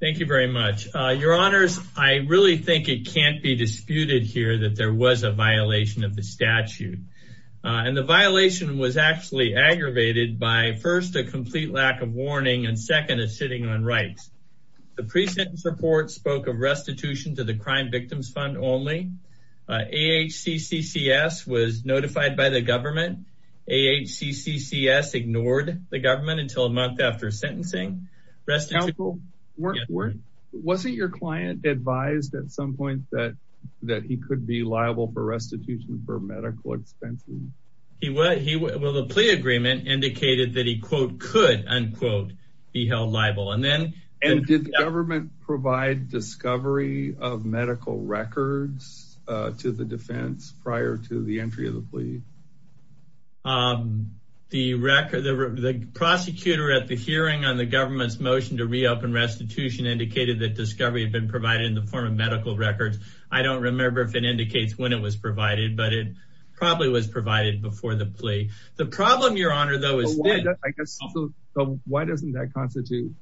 Thank you very much. Your honors, I really think it can't be disputed here that there was a violation of the statute. And the violation was actually aggravated by first a complete lack of warning and second a sitting on rights. The pre-sentence report spoke of restitution to the Crime Victims Fund only. AHCCCS was notified by the government. AHCCCS ignored the government until a month after sentencing. Wasn't your client advised at some point that he could be liable for restitution for medical expenses? Well, the plea agreement indicated that he could be held liable. Did the government provide discovery of medical records to the defense prior to the entry of the plea? The prosecutor at the hearing on the government's motion to reopen restitution indicated that discovery had been provided in the form of medical records. I don't remember if it indicates when it was provided, but it probably was provided before the plea. The problem, your honor, though, is that... Why doesn't that constitute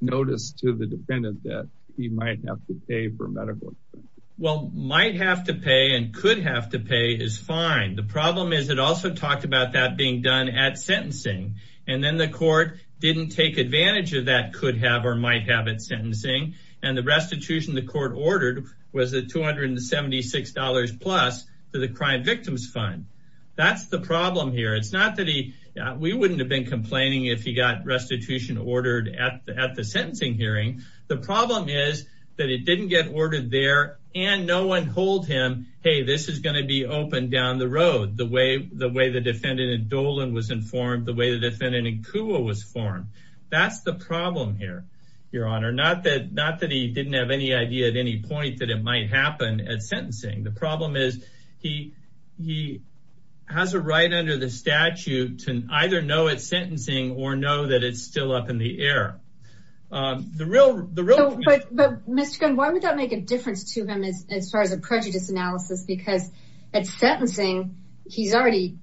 notice to the defendant that he might have to pay for medical expenses? Well, might have to pay and could have to pay is fine. The problem is it also talked about that being done at sentencing. And then the court didn't take advantage of that could have or might have at sentencing. And the restitution the court ordered was the $276 plus for the Crime Victims Fund. That's the problem here. It's not that he... We wouldn't have been complaining if he got restitution ordered at the sentencing hearing. The problem is that it didn't get ordered there and no one told him, hey, this is going to be open down the road. The way the defendant in Dolan was informed, the way the defendant in Cua was informed. That's the problem here, your honor. Not that he didn't have any idea at any point that it might happen at sentencing. The problem is he has a right under the statute to either know at sentencing or know that it's still up in the air. But Mr. Gunn, why would that make a difference to him as far as a prejudice analysis? Because at sentencing, he's already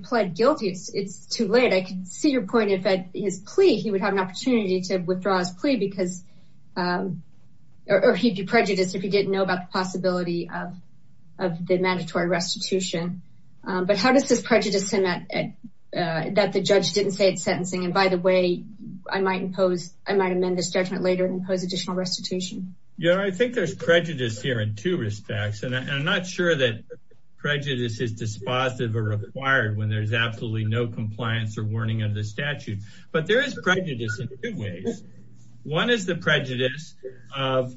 pled guilty. It's too late. I can see your point if at his plea he would have an opportunity to withdraw his plea because... Or he'd be prejudiced if he didn't know about the possibility of the mandatory restitution. But how does this prejudice him that the judge didn't say at sentencing? And by the way, I might impose, I might amend this judgment later and impose additional restitution. Your honor, I think there's prejudice here in two respects. And I'm not sure that prejudice is dispositive or required when there's absolutely no compliance or warning of the statute. But there is prejudice in two ways. One is the prejudice of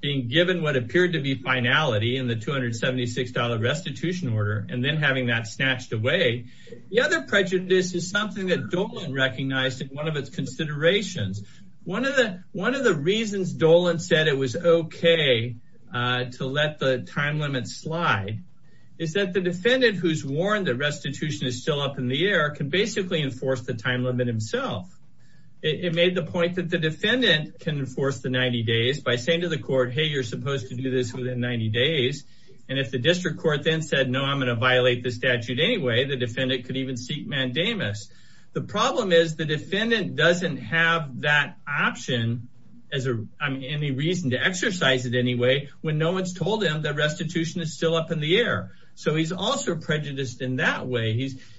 being given what appeared to be finality in the $276 restitution order and then having that snatched away. The other prejudice is something that Dolan recognized in one of its considerations. One of the reasons Dolan said it was okay to let the time limit slide is that the defendant who's warned that restitution is still up in the air can basically enforce the time limit himself. It made the point that the defendant can enforce the 90 days by saying to the court, hey, you're supposed to do this within 90 days. And if the district court then said, no, I'm going to violate the statute anyway, the defendant could even seek mandamus. The problem is the defendant doesn't have that option as any reason to exercise it anyway, when no one's told him that restitution is still up in the air. So he's also prejudiced in that way.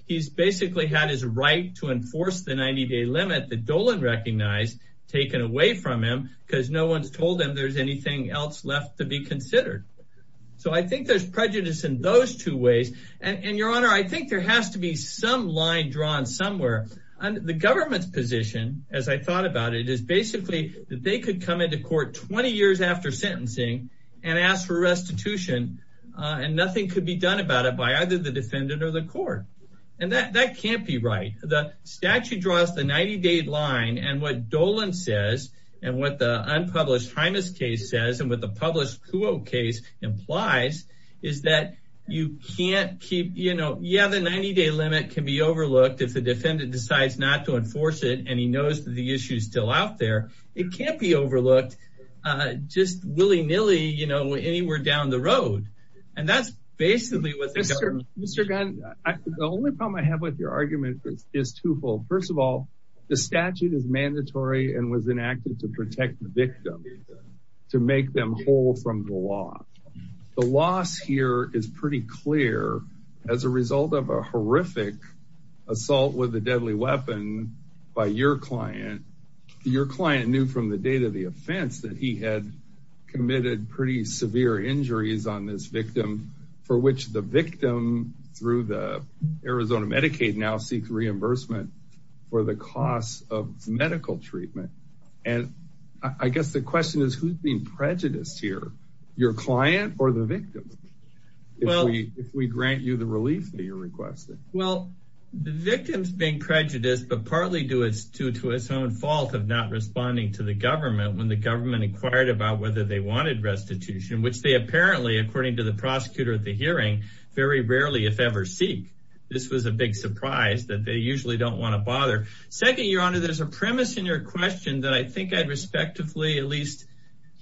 He's basically had his right to enforce the 90 day limit that Dolan recognized taken away from him because no one's told him there's anything else left to be considered. So I think there's prejudice in those two ways. And your honor, I think there has to be some line drawn somewhere. The government's position, as I thought about it, is basically that they could come into court 20 years after sentencing and ask for restitution. And nothing could be done about it by either the defendant or the court. And that that can't be right. The statute draws the 90 day line and what Dolan says, and what the case says, and what the published case implies, is that you can't keep, you know, yeah, the 90 day limit can be overlooked if the defendant decides not to enforce it, and he knows that the issue is still out there. It can't be overlooked. Just willy nilly, you know, anywhere down the road. And that's basically what Mr. Gunn, the only problem I have with your argument is twofold. First of all, the statute is to make them whole from the law. The loss here is pretty clear. As a result of a horrific assault with a deadly weapon by your client, your client knew from the date of the offense that he had committed pretty severe injuries on this victim, for which the victim through the Arizona Medicaid now seeks reimbursement for the costs of medical treatment. And I guess the question is who's being prejudiced here, your client or the victim? Well, if we grant you the relief that you're requesting? Well, the victims being prejudiced, but partly due to its own fault of not responding to the government when the government inquired about whether they wanted restitution, which they apparently, according to the prosecutor at the hearing, very rarely if ever seek. This was a big surprise that they usually don't want to bother. Second, Your Honor, there's a premise in your question that I think I'd respectively at least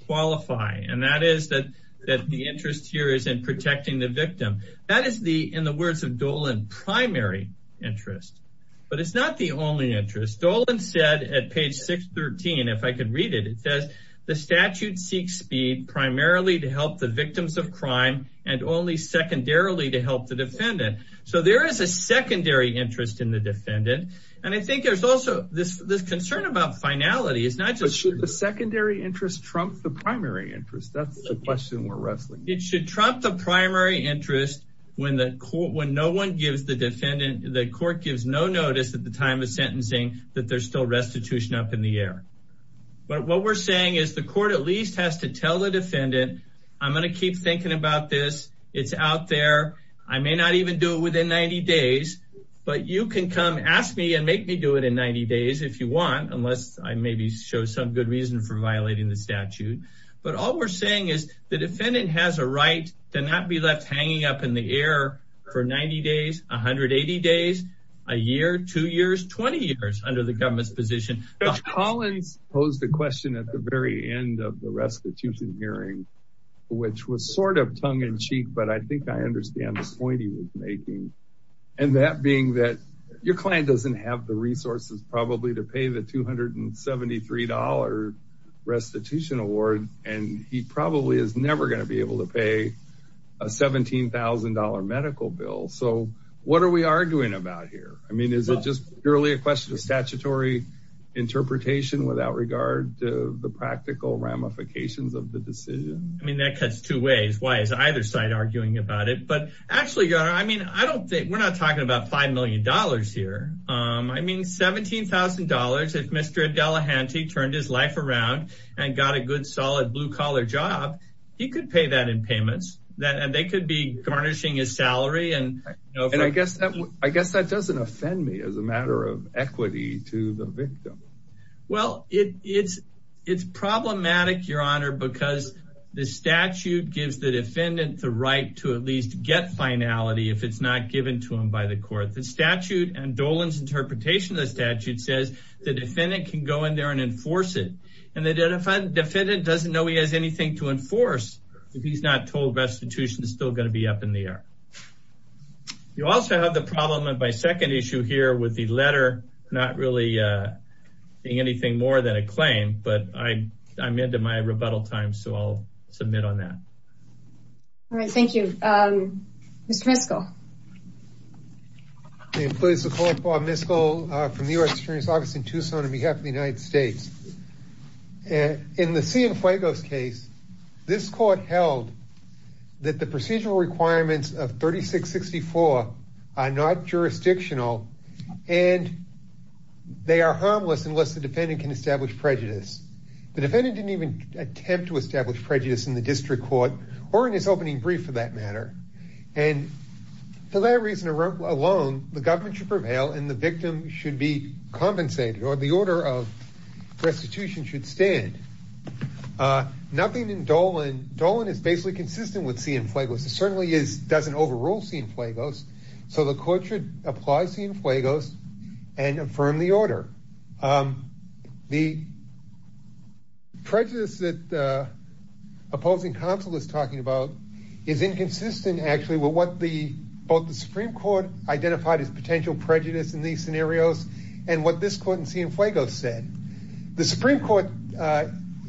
qualify. And that is that that the interest here is in protecting the victim. That is the, in the words of Dolan, primary interest. But it's not the only interest. Dolan said at page 613, if I could read it, it says the statute seeks speed primarily to help the victims of crime and only secondarily to help the defendant. So there is a secondary interest in the defendant. And I think there's also this this concern about finality is not just the secondary interest trumped the primary interest. That's the question we're wrestling. It should trump the primary interest when the court when no one gives the defendant the court gives no notice at the time of sentencing that there's still restitution up in the air. But what we're saying is the court at least has to tell the defendant, I'm going to keep thinking about this. It's out there. I may not even do it within 90 days. But you can come ask me and make me do it in 90 days if you want, unless I maybe show some good reason for violating the statute. But all we're saying is the defendant has a right to not be left hanging up in the air for 90 days, 180 days, a year, two years, 20 years under the government's Collins posed the question at the very end of the restitution hearing, which was sort of tongue in cheek, but I think I understand the point he was making. And that being that your client doesn't have the resources probably to pay the $273 restitution award, and he probably is never going to be able to pay a $17,000 medical bill. So what are we arguing about here? I mean, is it just purely a question of statutory interpretation without regard to the practical ramifications of the decision? I mean, that cuts two ways. Why is either side arguing about it? But actually, I mean, I don't think we're not talking about $5 million here. I mean, $17,000 if Mr. Delahanty turned his life around and got a good solid blue collar job, he could pay that in payments that and they could be garnishing his salary. And I guess I guess that doesn't offend me as a matter of equity to the victim. Well, it's, it's problematic, Your Honor, because the statute gives the defendant the right to at least get finality if it's not given to him by the court, the statute and Dolan's interpretation of the statute says the defendant can go in there and enforce it. And the defendant doesn't know he has anything to enforce if he's not told restitution is still going to be up in the air. You also have the problem of my second issue here with the letter, not really being anything more than a claim, but I I'm into my rebuttal time. So I'll submit on that. All right, thank you. Mr. Miskell. The employee is Laquan Miskell from the U.S. Attorney's Office in Tucson on behalf of the United States. In the Cienfuegos case, this court held that the procedural requirements of 3664 are not jurisdictional and they are harmless unless the defendant can establish prejudice. The defendant didn't even attempt to establish prejudice in the district court or in his opening brief for that matter. And for that alone, the government should prevail and the victim should be compensated or the order of restitution should stand. Nothing in Dolan, Dolan is basically consistent with Cienfuegos. It certainly is doesn't overrule Cienfuegos. So the court should apply Cienfuegos and affirm the order. The prejudice that the opposing counsel is talking about is inconsistent, actually, with what the both the Supreme Court identified as potential prejudice in these scenarios and what this court in Cienfuegos said. The Supreme Court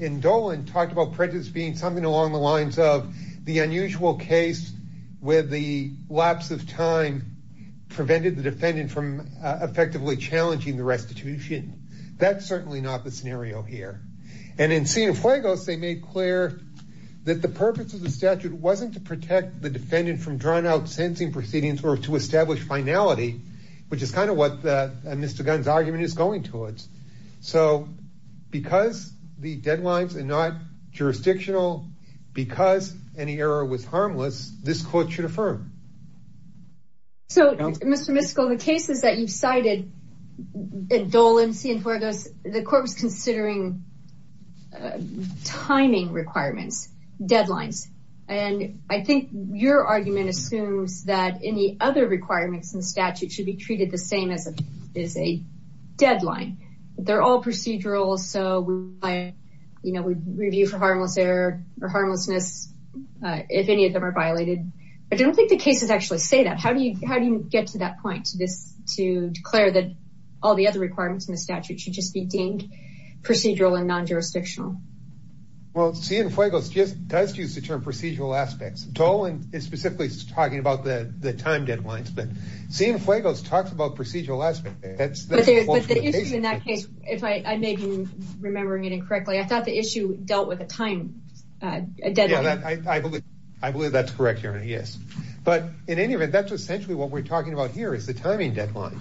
in Dolan talked about prejudice being something along the lines of the unusual case where the lapse of time prevented the defendant from effectively challenging the restitution. That's certainly not the scenario here. And in Cienfuegos, they made clear that the purpose of the statute wasn't to protect the defendant from drawn out sentencing proceedings or to establish finality, which is kind of what Mr. Gunn's argument is going towards. So because the deadlines are not jurisdictional, because any error was harmless, this court should affirm. So, Mr. Miskell, the cases that you've cited in Dolan, Cienfuegos, the court was considering timing requirements, deadlines. And I think your argument assumes that any other requirements in the statute should be treated the same as a deadline. They're all procedural. So, you know, we review for harmless error or harmlessness if any of them are violated. I don't think the cases actually say that. How do you how do you get to that point to this, to declare that all the other requirements in the statute should just be deemed procedural and non-jurisdictional? Well, Cienfuegos just does use the term procedural aspects. Dolan is specifically talking about the time deadlines, but Cienfuegos talks about procedural aspects. If I may be remembering it incorrectly, I thought the issue dealt with a time deadline. Yeah, I believe that's correct, Your Honor, yes. But in any event, that's essentially what we're talking about here is the timing deadline.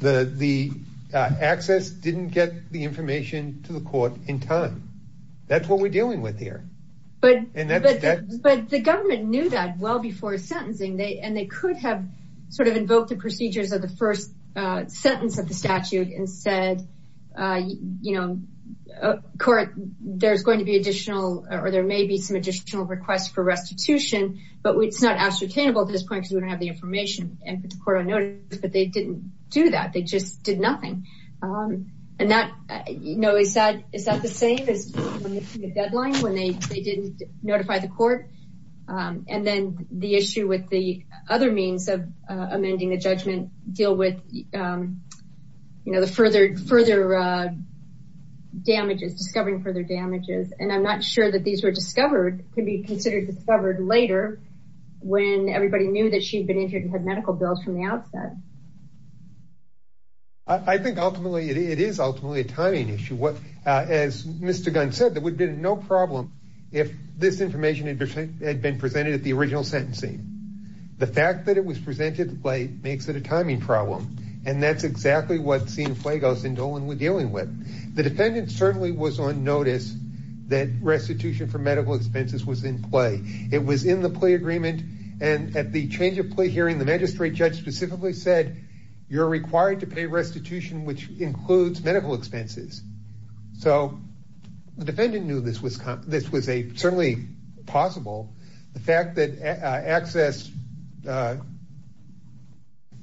The access didn't get the information to the court in time. That's what we're dealing with here. But the government knew that well before sentencing, and they could have sort of invoked the procedures of the first sentence of the statute and said, you know, there's going to be additional or there may be some additional requests for restitution, but it's not ascertainable at this point because we don't have the information and put the court on notice. But they didn't do that. They just did nothing. And that, you know, is that the same as the deadline when they didn't notify the court? And then the issue with the other means of amending the judgment deal with, you know, the further damages, discovering further damages. And I'm not sure that these were discovered, could be considered discovered later when everybody knew that she'd been injured and had medical bills from the outset. I think ultimately, it is ultimately a timing issue. As Mr. Gunn said, there would have been no problem if this information had been presented at the original sentencing. The fact that it was presented late makes it a timing problem. And that's exactly what Sina Flagos and Dolan were dealing with. The defendant certainly was on notice that restitution for medical expenses was in play. It was in the play agreement. And at the change of play hearing, the magistrate judge specifically said, you're required to pay restitution, which includes medical expenses. So the fact that access,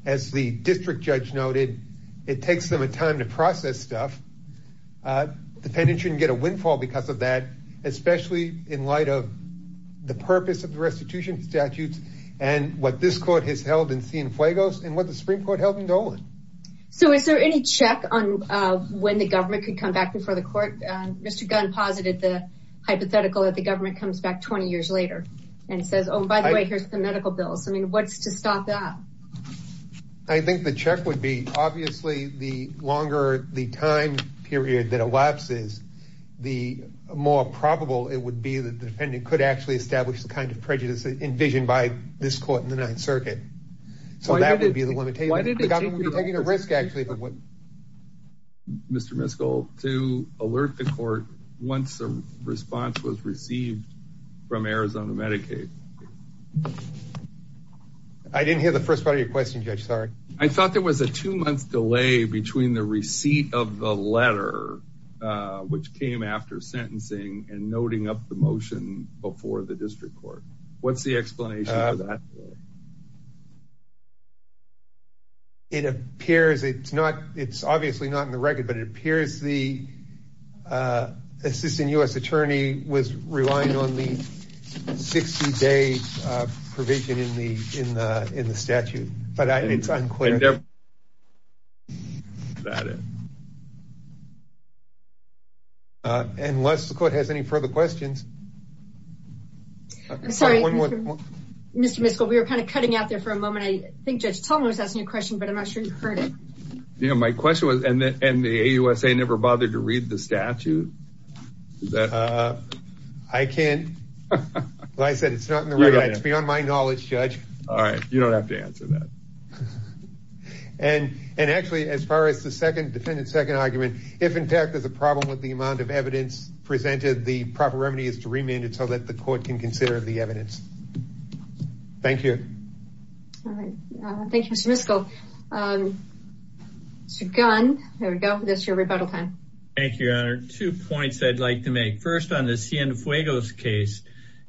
as the district judge noted, it takes them a time to process stuff. The defendant shouldn't get a windfall because of that, especially in light of the purpose of the restitution statutes and what this court has held in Sina Flagos and what the Supreme Court held in Dolan. So is there any check on when the government could come back before the court? Mr. Gunn posited the hypothetical that the government comes back 20 years later and says, oh, by the way, here's the medical bills. I mean, what's to stop that? I think the check would be obviously the longer the time period that elapses, the more probable it would be that the defendant could actually establish the kind of prejudice envisioned by this court in the Ninth Circuit. So that would be the limitation. The government would be taking a risk actually. Mr. Miskell, to alert the court once a response was received from Arizona Medicaid. I didn't hear the first part of your question, Judge. Sorry. I thought there was a two month delay between the receipt of the letter, which came after sentencing and noting up the motion before the district court. What's the explanation for that? Well, it appears it's not it's obviously not in the record, but it appears the assistant U.S. attorney was relying on the 60 day provision in the in the statute. But it's we were kind of cutting out there for a moment. I think Judge Tom was asking a question, but I'm not sure you heard it. Yeah, my question was, and the AUSA never bothered to read the statute that I can. I said it's beyond my knowledge, Judge. All right. You don't have to answer that. And and actually, as far as the second defendant, second argument, if in fact there's a problem with the amount of evidence presented, the proper remedy is to remand it so that the court can consider the evidence. Thank you. All right. Thank you, Mr. Miskell. Mr. Gunn, there we go. That's your rebuttal time. Thank you, Your Honor. Two points I'd like to make. First, on the Cienfuegos case,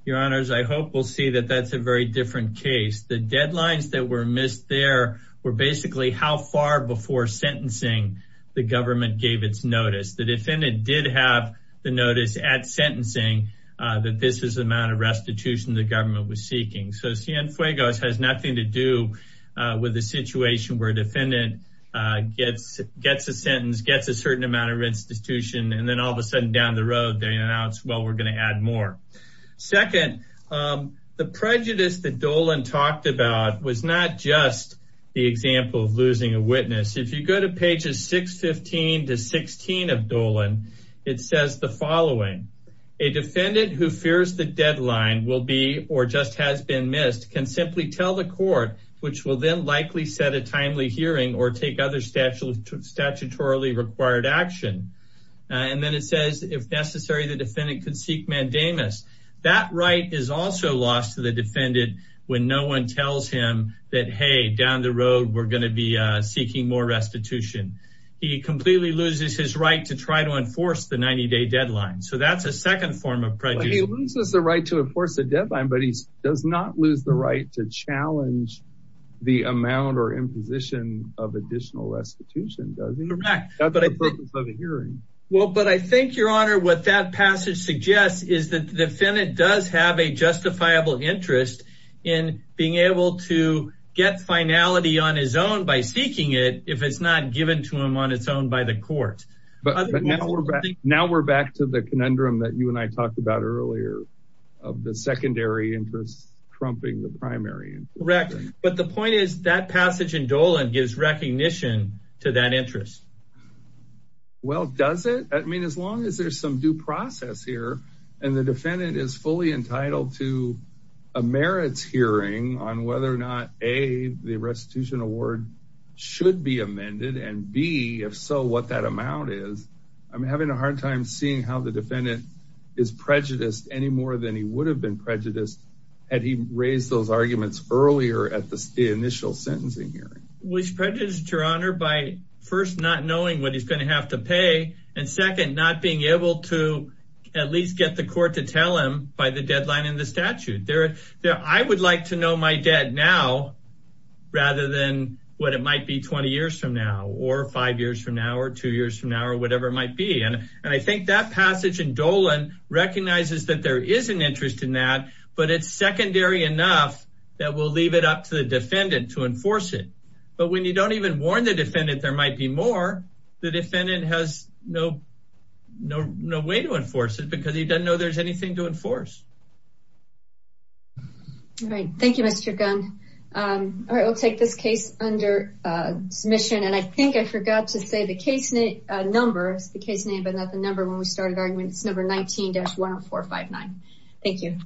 Your Honors, I hope we'll see that that's a very different case. The deadlines that were missed there were basically how far before sentencing the government gave its notice. The defendant did have the notice at sentencing that this is the amount of restitution the government was seeking. So Cienfuegos has nothing to do with the situation where a defendant gets a sentence, gets a certain amount of restitution, and then all of a sudden down the road, they announce, well, we're going to add more. Second, the prejudice that Dolan talked about was not just the example of losing a witness. If you go to pages 615 to 616 of Dolan, it says the following. A defendant who fears the deadline will be or just has been missed can simply tell the court, which will then likely set a timely hearing or take other statutorily required action. And then it says, if necessary, the defendant could seek mandamus. That right is also lost to the defendant when no one tells him that, hey, down the road, we're going to be seeking more restitution. He completely loses his right to try to enforce the 90-day deadline. So that's a second form of prejudice. He loses the right to enforce the deadline, but he does not lose the right to challenge the amount or imposition of additional restitution, does he? That's the purpose of a hearing. Well, but I think, Your Honor, what that passage suggests is that the defendant does have a justifiable interest in being able to get finality on his own by seeking it if it's not given to him on its own by the court. But now we're back to the conundrum that you and I talked about earlier of the secondary interest trumping the primary. Correct. But the point is that passage in Dolan gives recognition to that interest. Well, does it? I mean, as long as there's some due process here and the defendant is fully entitled to a merits hearing on whether or not, A, the restitution award should be amended, and B, if so, what that amount is, I'm having a hard time seeing how the defendant is prejudiced any more than he would have been prejudiced had he raised those arguments earlier at the initial sentencing hearing. Well, he's prejudiced, Your Honor, by first not knowing what he's going to have to pay, and second, not being able to at least get the court to tell him by the deadline in the statute. I would like to know my debt now rather than what it might be 20 years from now or five years from now or two years from now or whatever it might be. And I think that passage in Dolan recognizes that there is an interest in that, but it's secondary enough that we'll leave it up to the defendant to enforce it. But when you don't even warn the defendant, there might be more. The defendant has no way to enforce it because he doesn't know there's anything to enforce. All right. Thank you, Mr. Gunn. I will take this case under submission, and I think I forgot to say the case numbers, the case name, but not the number when we started arguing. It's number 19-10459. Thank you.